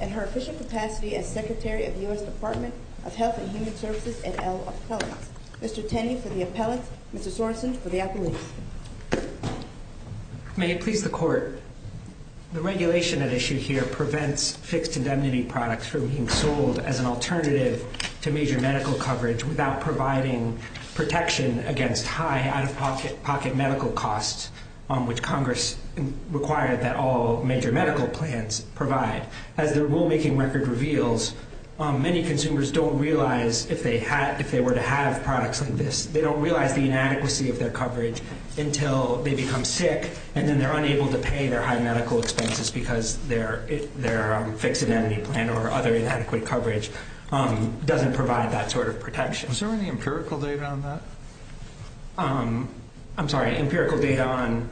and her official capacity as Secretary of the U.S. Department of Health and Human Services et al. appellate. Mr. Tenney for the appellate, Mr. Sorensen for the appellate. May it please the Court, the regulation at issue here prevents fixed indemnity products from being sold as an alternative to major medical coverage without providing protection against high out-of-pocket medical costs, which Congress required that all major medical plans provide. As the rulemaking record reveals, many consumers don't realize if they were to have products like this, they don't realize the inadequacy of their coverage until they become sick and then they're unable to pay their high medical expenses because their fixed indemnity plan or other inadequate coverage doesn't provide that sort of protection. Is there any empirical data on that? I'm sorry, empirical data on...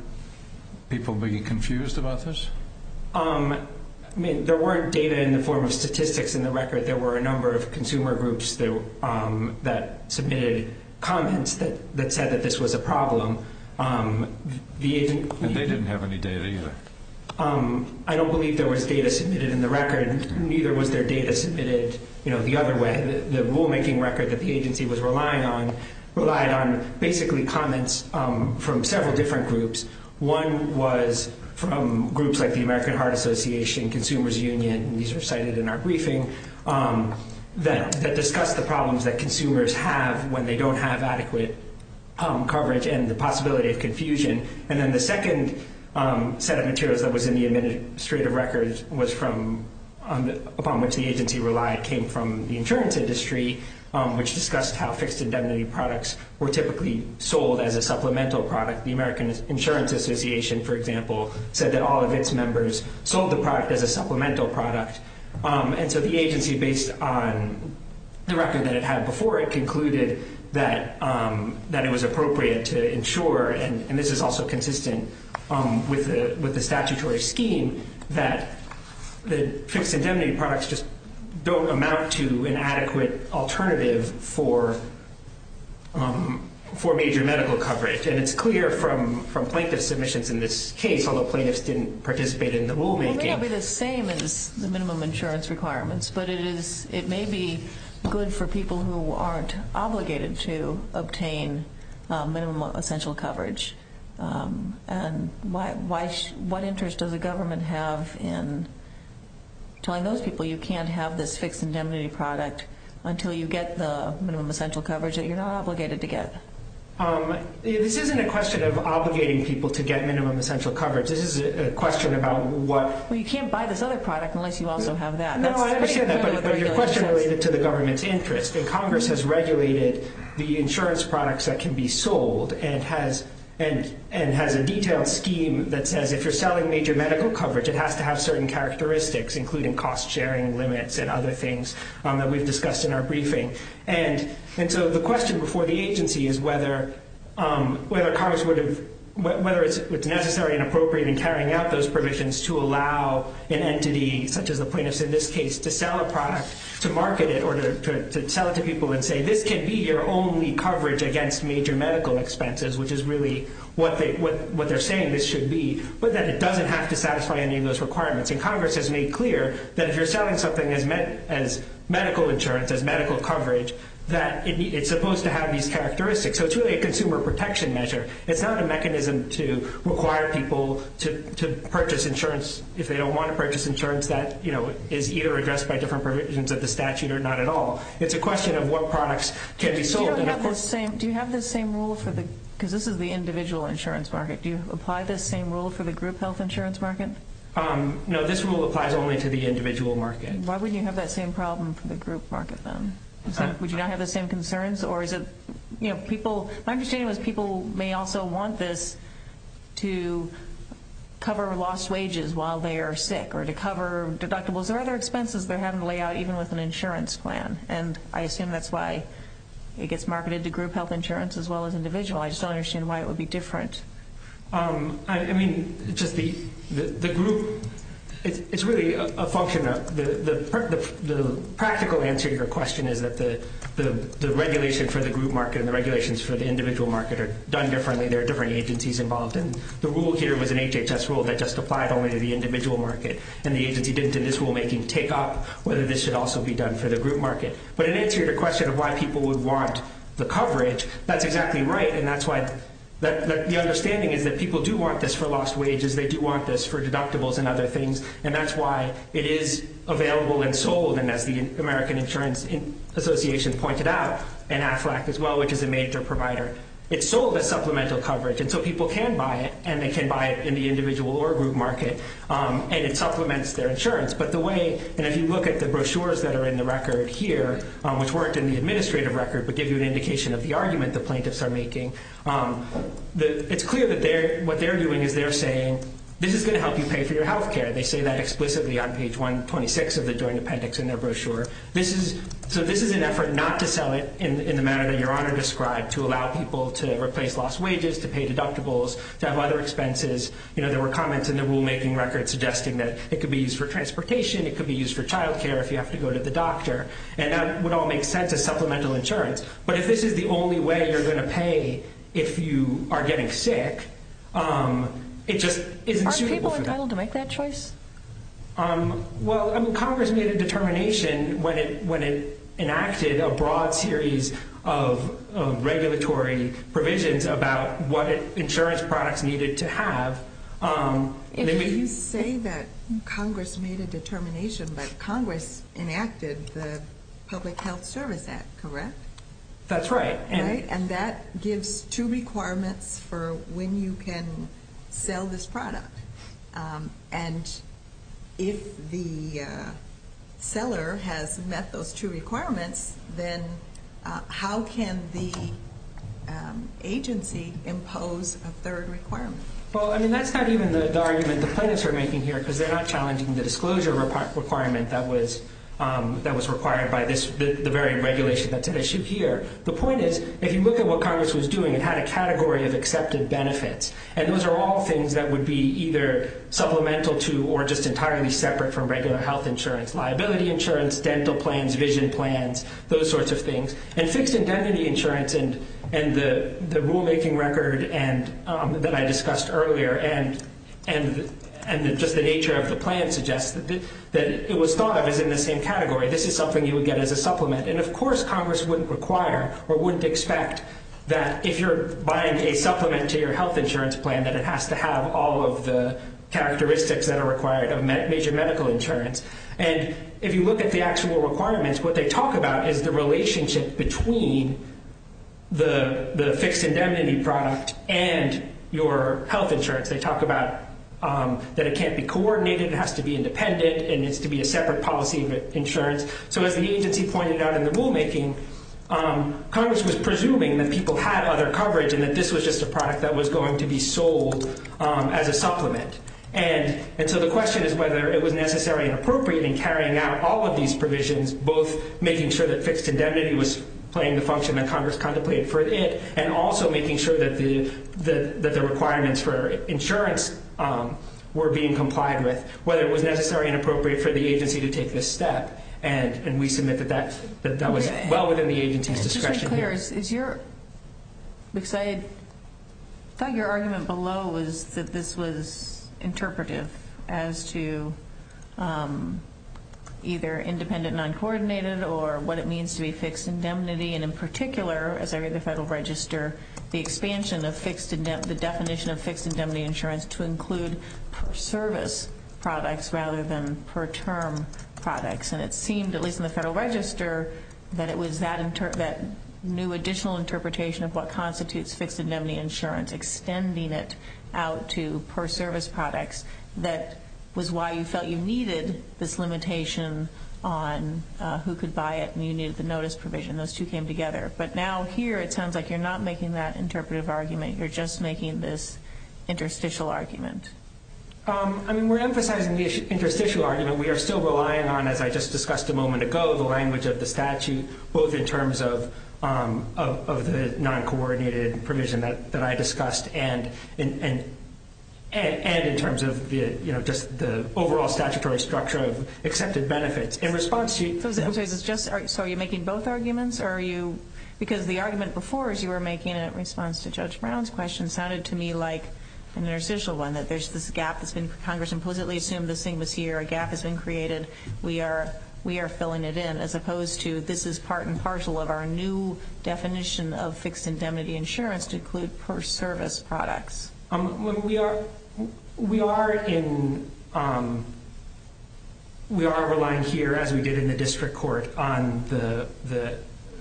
People being confused about this? I mean, there weren't data in the form of statistics in the record. There were a number of consumer groups that submitted comments that said that this was a problem. And they didn't have any data either? I don't believe there was data submitted in the record. Neither was there data submitted, you know, the other way. The rulemaking record that the agency was relying on relied on basically comments from several different groups. One was from groups like the American Heart Association, Consumers Union, these are cited in our briefing, that discussed the problems that consumers have when they don't have adequate coverage and the possibility of confusion. And then the second set of materials that was in the administrative records was from, upon which the agency relied, came from the insurance industry, which discussed how fixed indemnity products were typically sold as a supplemental product. The American Insurance Association, for example, said that all of its members sold the product as a supplemental product. And so the agency, based on the record that it had before it, concluded that it was appropriate to ensure, and this is also consistent with the statutory scheme, that the fixed indemnity products just don't amount to an adequate alternative for major medical coverage. And it's clear from plaintiff submissions in this case, although plaintiffs didn't participate in the rulemaking. Well, it may not be the same as the minimum insurance requirements, but it is, it may be good for people who aren't obligated to obtain minimum essential coverage. And why, what interest does the government have in telling those people you can't have this fixed indemnity product until you get the minimum essential coverage that you're not obligated to get? This isn't a question of obligating people to get minimum essential coverage. This is a question about what... Well, you can't buy this other product unless you also have that. No, I understand that, but your question related to the government's interest. And Congress has regulated the insurance products that can be sold and has a detailed scheme that says if you're selling major medical coverage, it has to have certain characteristics, including cost sharing limits and other things that we've discussed in our briefing. And so the question before the agency is whether Congress would have, whether it's necessary and appropriate in carrying out those provisions to allow an entity, such as the plaintiffs in this case, to sell a product, to market it or to sell it to people and say, this can be your only coverage against major medical expenses, which is really what they're saying this should be, but that it doesn't have to satisfy any of those requirements. And Congress has made clear that if you're selling something as medical insurance, as medical coverage, that it's supposed to have these characteristics. So it's really a consumer protection measure. It's not a mechanism to require people to purchase insurance if they don't want to purchase insurance that is either addressed by different provisions of the statute or not at all. It's a question of what products can be sold. Do you have this same rule for the, because this is the individual insurance market, do you apply this same rule for the group health insurance market? No, this rule applies only to the individual market. Why wouldn't you have that same problem for the group market then? Would you not have the same concerns or is it, you know, people, my understanding was people may also want this to cover lost wages while they are sick or to cover deductibles or other expenses they're having to lay out even with an insurance plan. And I assume that's why it gets marketed to group health insurance as well as individual. I just don't understand why it would be different. I mean, just the group, it's really a function of the, the practical answer to your question is that the, the, the regulation for the group market and the regulations for the individual market are done differently. There are different agencies involved in the rule here was an HHS rule that just applied only to the individual market and the agency didn't in this rule making take up whether this should also be done for the group market. But it answered the question of why people would want the coverage. That's exactly right. And that's why the understanding is that people do want this for lost wages. They do want this for deductibles and other things. And that's why it is available and sold. And as the American Insurance Association pointed out and Aflac as well, which is a major provider, it's sold as supplemental coverage. And so people can buy it and they can buy it in the individual or group market. And it supplements their insurance. But the way, and if you look at the brochures that are in the record here, which weren't in the administrative record but give you an indication of the argument, the plaintiffs are making the, it's clear that they're, what they're doing is they're saying, this is going to help you pay for your healthcare. They say that explicitly on page 126 of the joint appendix in their So this is an effort not to sell it in the manner that your honor described to allow people to replace lost wages, to pay deductibles, to have other expenses. You know, there were comments in the rulemaking record suggesting that it could be used for transportation. It could be used for childcare if you have to go to the doctor. And that would all make sense as supplemental insurance. But if this is the only way you're going to pay, if you are getting sick, it just isn't suitable for them to make that choice. Well, I mean, Congress made a determination when it, when it enacted a broad series of regulatory provisions about what insurance products needed to have. If you say that Congress made a determination, but Congress enacted the public health service act, correct? That's right. Right. And that gives two requirements for when you can sell this product. And if the seller has met those two requirements, then how can the agency impose a third requirement? Well, I mean, that's not even the argument the plaintiffs are making here because they're not challenging the disclosure requirement that was that was required by this, the very regulation that's at issue here. The point is, if you look at what Congress was doing and had a category of accepted benefits, and those are all things that would be either supplemental to, or just entirely separate from regular health insurance, liability insurance, dental plans, vision plans, those sorts of things, and fixed indemnity insurance and, and the rulemaking record and that I discussed earlier and, and, and just the nature of the plan suggests that it was thought of as in the same category. This is something you would get as a supplement. And of course, Congress wouldn't require or wouldn't expect that if you're buying a supplement to your health insurance plan, that it has to have all of the characteristics that are required of major medical insurance. And if you look at the actual requirements, what they talk about is the relationship between the fixed indemnity product and your health insurance. They talk about that it can't be So as the agency pointed out in the rulemaking, Congress was presuming that people had other coverage and that this was just a product that was going to be sold as a supplement. And so the question is whether it was necessary and appropriate in carrying out all of these provisions, both making sure that fixed indemnity was playing the function that Congress contemplated for it, and also making sure that the, the, that the requirements for insurance were being met. And we submit that that, that that was well within the agency's discretion here. Is your, because I thought your argument below was that this was interpretive as to either independent non-coordinated or what it means to be fixed indemnity. And in particular, as I read the federal register, the expansion of fixed, the definition of fixed indemnity insurance to include per service products rather than per term products. And it seemed to me, at least in the federal register, that it was that new additional interpretation of what constitutes fixed indemnity insurance, extending it out to per service products. That was why you felt you needed this limitation on who could buy it and you needed the notice provision. Those two came together. But now here, it sounds like you're not making that interpretive argument. You're just making this interstitial argument. I mean, we're emphasizing the interstitial argument. We are still relying on, as I just discussed a moment ago, the language of the statute, both in terms of the non-coordinated provision that I discussed and in terms of just the overall statutory structure of accepted benefits. In response to you. So are you making both arguments? Because the argument before is you were making a response to Judge Brown's question sounded to me like an interstitial one, that there's this gap that's been Congress implicitly assumed this thing was here. A gap has been created. We are filling it in, as opposed to this is part and parcel of our new definition of fixed indemnity insurance to include per service products. We are relying here, as we did in the district court, on the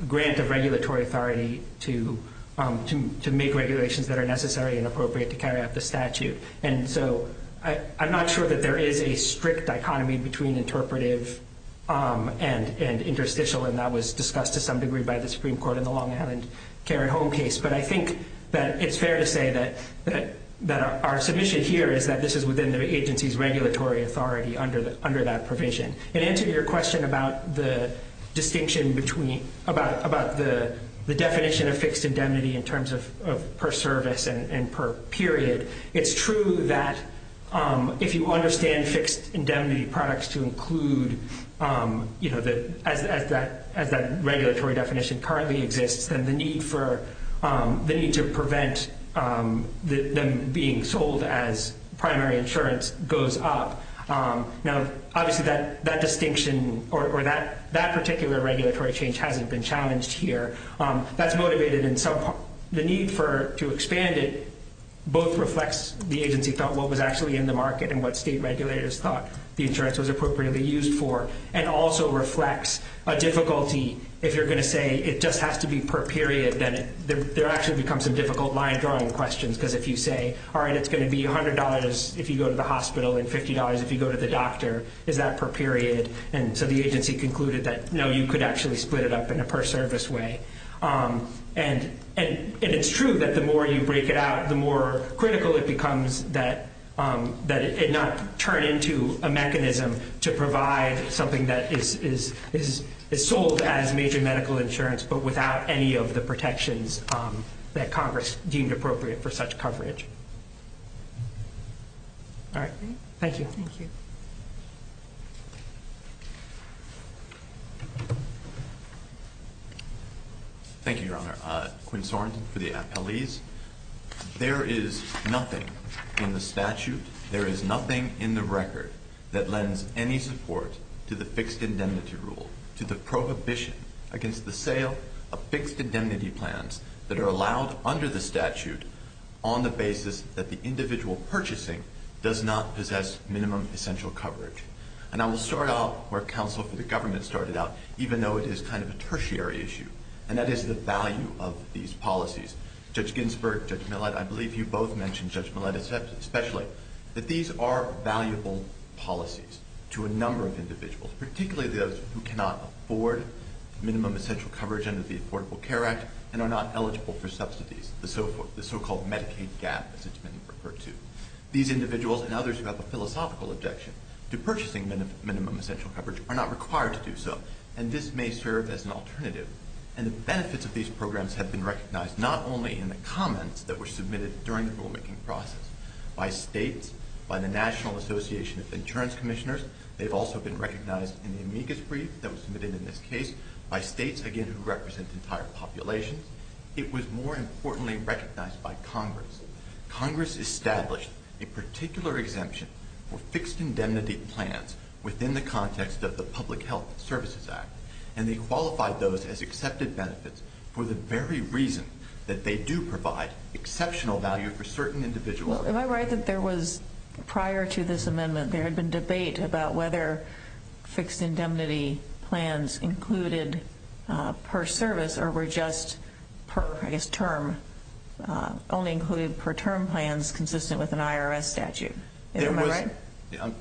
grant of regulatory authority to make regulations that are necessary and appropriate to carry out the statute. I'm not sure that there is a strict dichotomy between interpretive and interstitial, and that was discussed to some degree by the Supreme Court in the Long Island Care at Home case. But I think that it's fair to say that our submission here is that this is within the agency's regulatory authority under that provision. In answer to your question about the definition of fixed indemnity in terms of per service and per period, it's true that if you understand fixed indemnity products to include, as that regulatory definition currently exists, then the need to prevent them being sold as primary insurance goes up. Now, obviously, that distinction or that particular regulatory change hasn't been challenged here. That's motivated in some part. The need to expand it both reflects the agency thought, what was actually in the market, and what state regulators thought the insurance was appropriately used for, and also reflects a difficulty if you're going to say it just has to be per period, then there actually becomes some difficult line drawing questions. Because if you say, all right, it's going to be $100 if you go to the hospital and $50 if you go to the doctor, is that per period? And so the agency concluded that, no, you could actually split it up in a per service way. And it's true that the more you break it out, the more critical it becomes that it not turn into a mechanism to provide something that is sold as major medical insurance, but without any of the protections that Congress deemed appropriate for such coverage. All right. Thank you. Thank you. Thank you, Your Honor. Quinn Sorensen for the appellees. There is nothing in the statute, there is nothing in the record that lends any support to the fixed indemnity rule, to the prohibition against the sale of fixed indemnity plans that are allowed under the And I will start off where counsel for the government started out, even though it is kind of a tertiary issue, and that is the value of these policies. Judge Ginsburg, Judge Millett, I believe you both mentioned, Judge Millett especially, that these are valuable policies to a number of individuals, particularly those who cannot afford minimum essential coverage under the Affordable Care Act and are not eligible for subsidies, the so-called Medicaid gap, as it's been referred to. These individuals and others who have a philosophical objection to purchasing minimum essential coverage are not required to do so, and this may serve as an alternative. And the benefits of these programs have been recognized not only in the comments that were submitted during the rulemaking process by states, by the National Association of Insurance Commissioners, they've also been recognized in the amicus brief that was submitted in this case by states, again, who represent entire populations. It was more importantly recognized by Congress. Congress established a particular exemption for fixed indemnity plans within the context of the Public Health Services Act, and they qualified those as accepted benefits for the very reason that they do provide exceptional value for certain individuals. Well, am I right that there was, prior to this amendment, there had been debate about whether fixed indemnity plans included per service or were just per, I guess, term, only included per term plans consistent with an IRS statute? Am I right?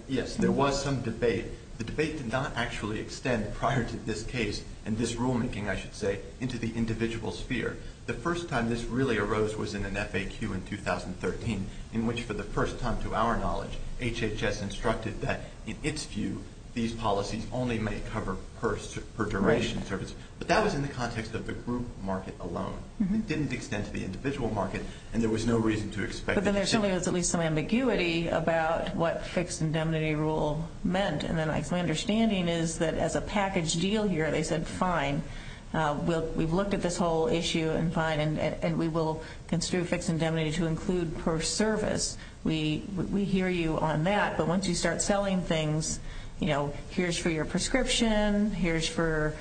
Yes, there was some debate. The debate did not actually extend prior to this case, and this rulemaking, I should say, into the individual sphere. The first time this really arose was in an FAQ in 2013, in which, for the first time to our knowledge, HHS instructed that, in its view, these policies only may cover per duration service. But that was in the But then there's something that's at least some ambiguity about what fixed indemnity rule meant. And then my understanding is that, as a package deal here, they said, fine, we've looked at this whole issue, and fine, and we will consider fixed indemnity to include per service. We hear you on that, but once you start selling things, you know, here's for your prescription, here's for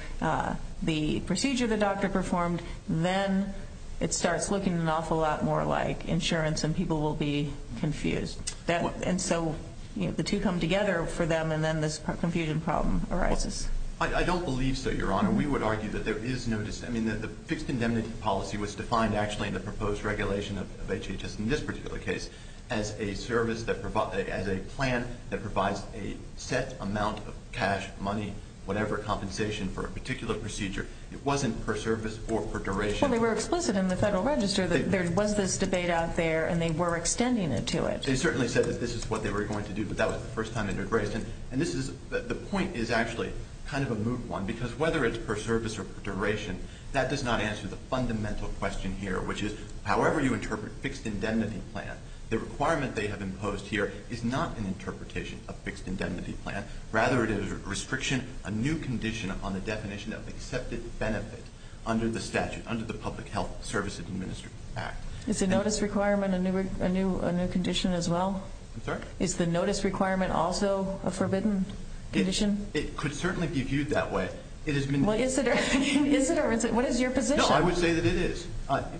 the procedure the doctor performed, then it starts looking an awful lot more like insurance, and people will be confused. And so, you know, the two come together for them, and then this confusion problem arises. I don't believe so, Your Honor. We would argue that there is no dis—I mean, the fixed indemnity policy was defined, actually, in the proposed regulation of HHS in this particular case as a service that provides—as a plan that provides a set amount of cash, money, whatever compensation for a particular procedure. It wasn't per service or per duration. Well, they were explicit in the Federal Register that there was this debate out there, and they were extending it to it. They certainly said that this is what they were going to do, but that was the first time it had been raised. And this is—the point is actually kind of a moot one, because whether it's per service or per duration, that does not answer the fundamental question here, which is, however you interpret fixed indemnity plan, the requirement they have imposed here is not an interpretation of fixed indemnity plan. Rather, it is a restriction, a new condition on the definition of accepted benefit under the statute, under the Public Health Service Administration Act. Is the notice requirement a new condition as well? I'm sorry? Is the notice requirement also a forbidden condition? It could certainly be viewed that way. It has been— Well, is it, or is it—what is your position? No, I would say that it is,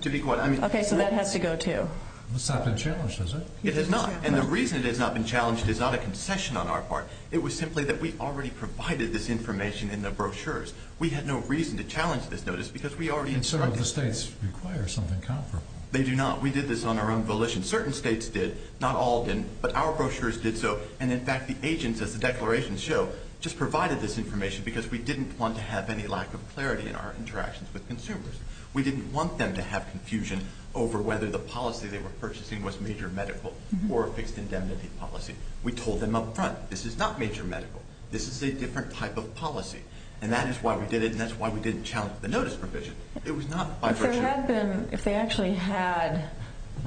to be quite honest. Okay, so that has to go, too. It's not been challenged, is it? It has not. And the reason it has not been challenged is not a concession on our part. It was simply that we already provided this information in the brochures. We had no reason to challenge this notice, because we already instructed— And so do the states require something comparable? They do not. We did this on our own volition. Certain states did. Not all did. But our brochures did so. And in fact, the agents, as the declarations show, just provided this information, because we didn't want to have any lack of clarity in our interactions with consumers. We didn't want them to have confusion over whether the policy they were purchasing was major medical or a fixed indemnity policy. We told them up front, this is not major medical. This is a different type of policy. And that is why we did it, and that's why we didn't challenge the notice provision. It was not by virtue of— If there had been—if they actually had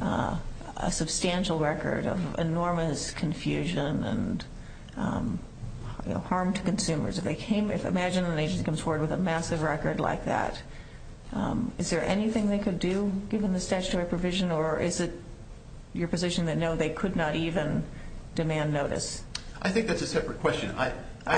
a substantial record of enormous confusion and harm to consumers, if they came—imagine an agency comes forward with a massive record like that. Is there anything they could do, given the statutory provision? Or is it your position that no, they could not even demand notice? I think that's a separate question. I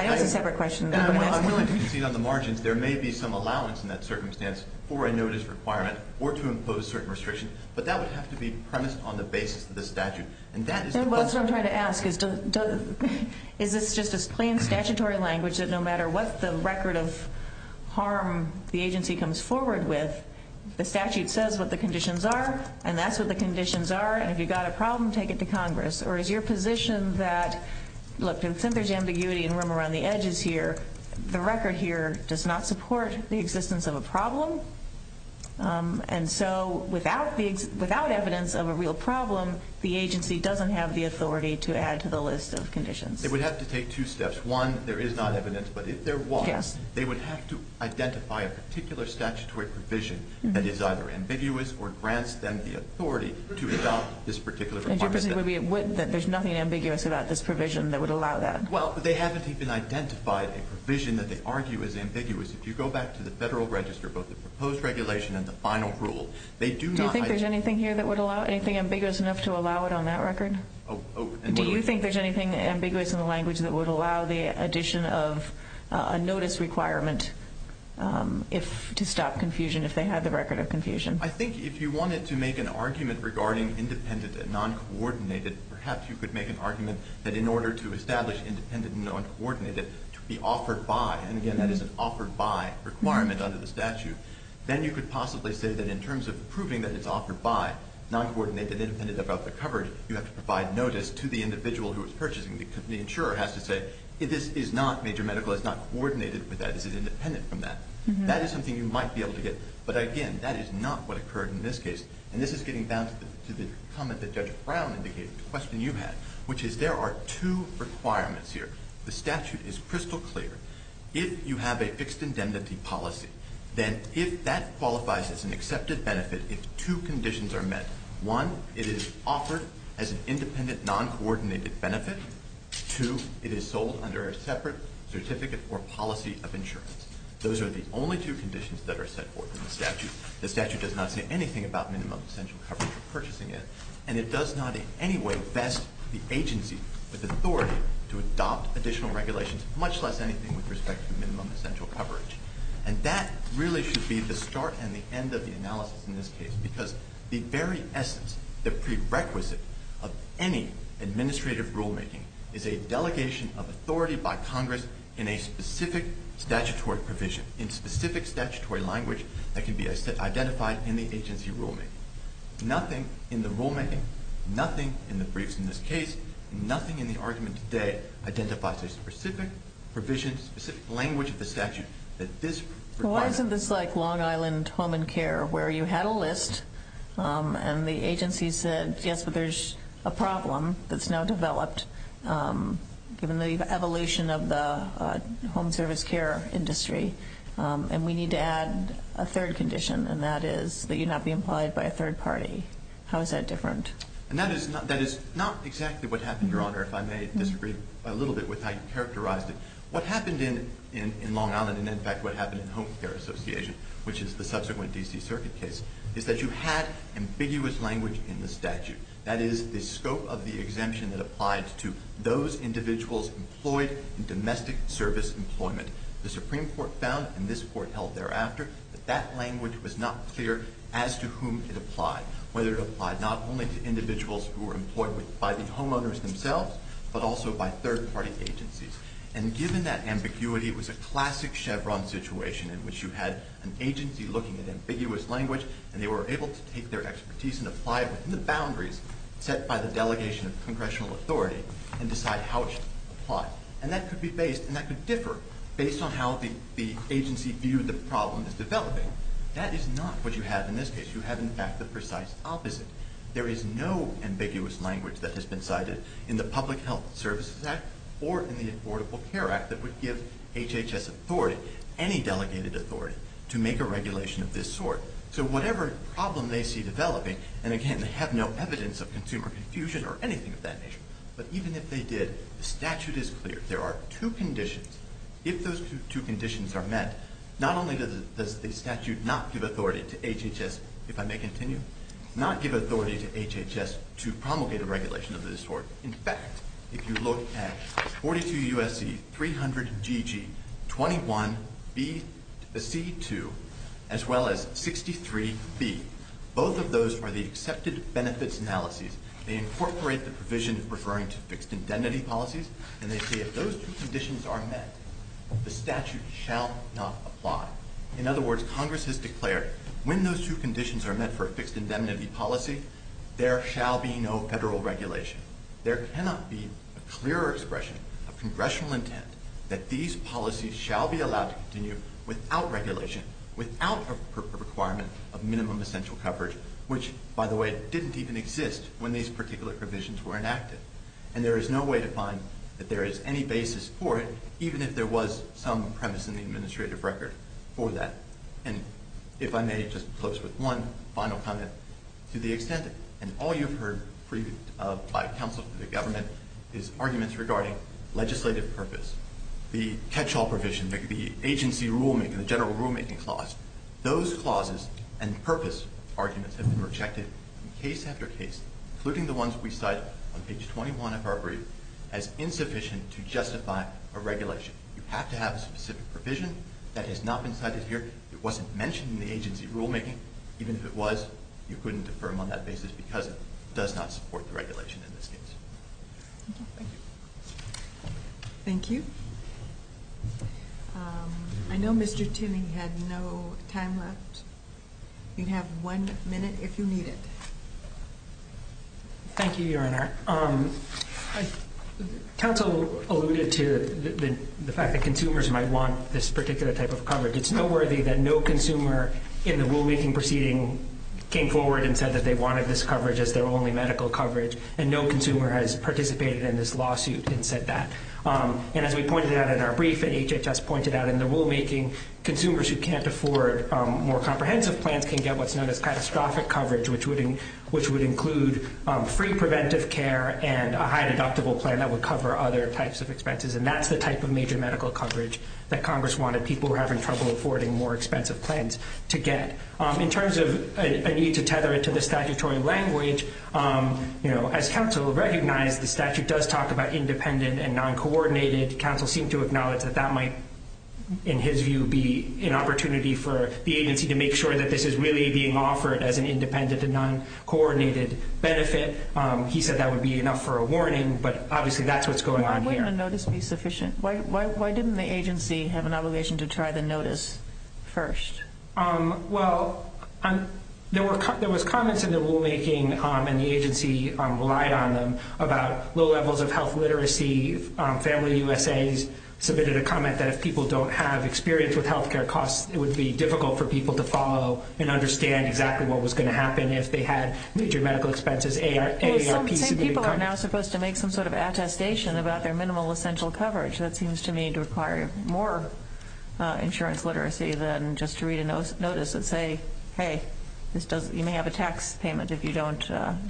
know it's a separate question. I'm willing to concede on the margins. There may be some allowance in that circumstance for a notice requirement or to impose certain restrictions. But that would have to be premised on the basis of the statute. And that is the question. And that's what I'm trying to ask. Is this just as plain statutory language that no matter what the record of harm the agency comes forward with, the statute says what the conditions are, and that's what the conditions are, and if you've got a problem, take it to Congress? Or is your position that, look, since there's ambiguity and room around the edges here, the record here does not support the existence of a problem? And so without evidence of a real problem, the agency doesn't have the authority to add to the list of conditions. They would have to take two steps. One, there is not evidence, but if there was, they would have to identify a particular statutory provision that is either ambiguous or grants them the authority to adopt this particular requirement. And your position would be that there's nothing ambiguous about this provision that would allow that? Well, they haven't even identified a provision that they argue is ambiguous. If you go back to the Federal Register, both the proposed regulation and the final rule, they do not Do you think there's anything here that would allow, anything ambiguous enough to allow it on that record? Do you think there's anything ambiguous in the language that would allow the addition of a notice requirement to stop confusion if they had the record of confusion? I think if you wanted to make an argument regarding independent and non-coordinated, perhaps you could make an argument that in order to establish independent and non-coordinated to be offered by, and again, that is an offered by requirement under the statute, then you could possibly say that in terms of proving that it's offered by, non-coordinated, independent of other coverage, you have to provide notice to the individual who is purchasing. The insurer has to say, this is not major medical. It's not coordinated with that. This is independent from that. That is something you might be able to get. But again, that is not what occurred in this case. And this is getting down to the comment that Judge Brown indicated, the question you had, which is there are two requirements here. The statute is crystal clear. If you have a fixed indemnity policy, then if that qualifies as an accepted benefit, if two conditions are met, one, it is offered as an independent, non-coordinated benefit. Two, it is sold under a separate certificate or policy of insurance. Those are the only two conditions that are set forth in the statute. The statute does not say anything about minimum essential coverage for purchasing it, and it does not in any way vest the agency with authority to adopt additional regulations, much less anything with respect to minimum essential coverage. And that really should be the start and the end of the analysis in this case, because the very essence, the prerequisite of any administrative rulemaking is a delegation of authority by Congress in a specific statutory provision, in specific statutory language that can be identified in the agency rulemaking. Nothing in the rulemaking, nothing in the briefs in this case, nothing in the argument today identifies a specific provision, specific language of the statute that this requires. Why isn't this like Long Island Home and Care, where you had a list, and the agency said, yes, but there's a problem that's now developed, given the evolution of the home service care industry, and we need to add a third condition, and that is that you not be implied by a third party. How is that different? And that is not exactly what happened, Your Honor, if I may disagree a little bit with how you characterized it. What happened in Long Island, and in fact what happened in Home Care Association, which is the subsequent D.C. Circuit case, is that you had ambiguous language in the statute. That is, the scope of the exemption that applied to those individuals employed in domestic service employment. The Supreme Court found, and this Court held thereafter, that that language was not clear as to whom it applied, whether it applied not only to individuals who were employed by the homeowners themselves, but also by third party agencies. And given that ambiguity, it was a classic Chevron situation, in which you had an agency looking at ambiguous language, and they were able to take their expertise and apply it within the boundaries set by the delegation of congressional authority, and decide how it should apply. And that could be based, and that could differ, based on how the agency viewed the problem that's developing. That is not what you have in this case. You have, in fact, the precise opposite. There is no ambiguous language that has been cited in the Public Health Services Act, or in the Affordable Care Act, that would give HHS authority, any delegated authority, to make a regulation of this sort. So whatever problem they see developing, and again, they have no evidence of consumer confusion or anything of that nature, but even if they did, the statute is clear. There are two conditions. If those two conditions are met, not only does the statute not give authority to HHS, if I may continue, not give authority to HHS to promulgate a regulation of this sort. In fact, if you look at 42 U.S.C. 300 GG, 21 C2, as well as 63 B, both of those are the accepted benefits analyses. They incorporate the provision of referring to fixed indemnity policies, and they say if those two conditions are met, the statute shall not apply. In other words, Congress has declared, when those two conditions are met for a fixed indemnity policy, there shall be no federal regulation. There cannot be a clearer expression of congressional intent that these policies shall be allowed to continue without regulation, without a requirement of minimum essential coverage, which, by the way, didn't even exist when these particular provisions were enacted. And there is no way to find that there is any basis for it, even if there was some premise in the administrative record for that. And if I may, just close with one final comment. To the extent, and all you've heard previewed by counsel to the government, is arguments regarding legislative purpose, the catch-all provision, the agency rulemaking, the general rulemaking clause. Those clauses and purpose arguments have been rejected in case after case, including the ones we cite on page 21 of our brief, as insufficient to justify a regulation. You have to have a specific provision that has not been cited here. It wasn't mentioned in the agency rulemaking. Even if it was, you couldn't defer on that basis because it does not support the regulation in this case. Thank you. I know Mr. Timming had no time left. You'd have one minute if you need it. Thank you, Your Honor. Council alluded to the fact that consumers might want this particular type of coverage. It's noteworthy that no consumer in the rulemaking proceeding came forward and said that they wanted this coverage as their only medical coverage, and no consumer has participated in this lawsuit and said that. And as we pointed out in our brief, and HHS pointed out in the rulemaking, consumers who can't afford more comprehensive plans can get what's known as catastrophic coverage, which would include free preventive care and a high deductible plan that would cover other types of expenses. And that's the type of major medical coverage that Congress wanted people who were having trouble affording more expensive plans to get. In terms of a need to tether it to the statutory language, as Council recognized, the statute does talk about independent and non-coordinated. Council seemed to acknowledge that that might, in his view, be an opportunity for the agency to make sure that this is really being offered as an independent and non-coordinated benefit. He said that would be enough for a warning, but obviously that's what's going on here. Why didn't a notice be sufficient? Why didn't the agency have an obligation to try the notice first? Well, there were comments in the rulemaking, and the agency relied on them, about low levels of health literacy. FamilyUSA submitted a comment that if people don't have experience with healthcare costs, it would be difficult for people to follow and understand exactly what was going to happen if they had major medical expenses. Some people are now supposed to make some sort of attestation about their minimal essential coverage. That seems to me to require more insurance literacy than just to read a notice and say, hey, you may have a tax payment if you don't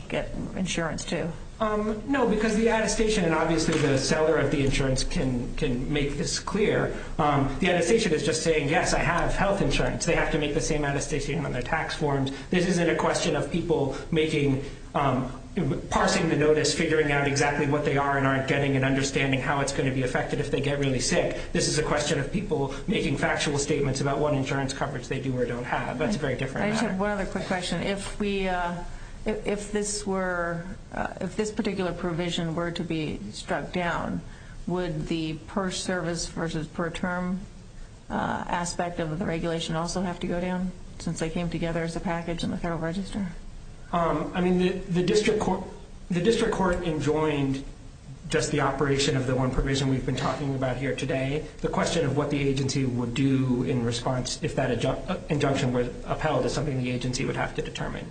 get insurance, too. No, because the attestation, and obviously the seller of the insurance can make this clear, the attestation is just saying, yes, I have health insurance. They have to make the same attestation on their tax forms. This isn't a question of people parsing the notice, figuring out exactly what they are and aren't getting, and understanding how it's going to be affected if they get really sick. This is a question of people making factual statements about what insurance coverage they do or don't have. That's a very different matter. I just have one other quick question. If this particular provision were to be struck down, would the per service versus per term aspect of the regulation also have to go down since they came together as a package in the Federal Register? I mean, the District Court enjoined just the operation of the one provision we've been talking about here today. The question of what the agency would do in response if that injunction were upheld is something the agency would have to determine.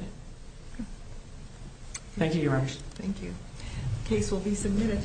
Thank you, Your Honor. Thank you. The case will be submitted.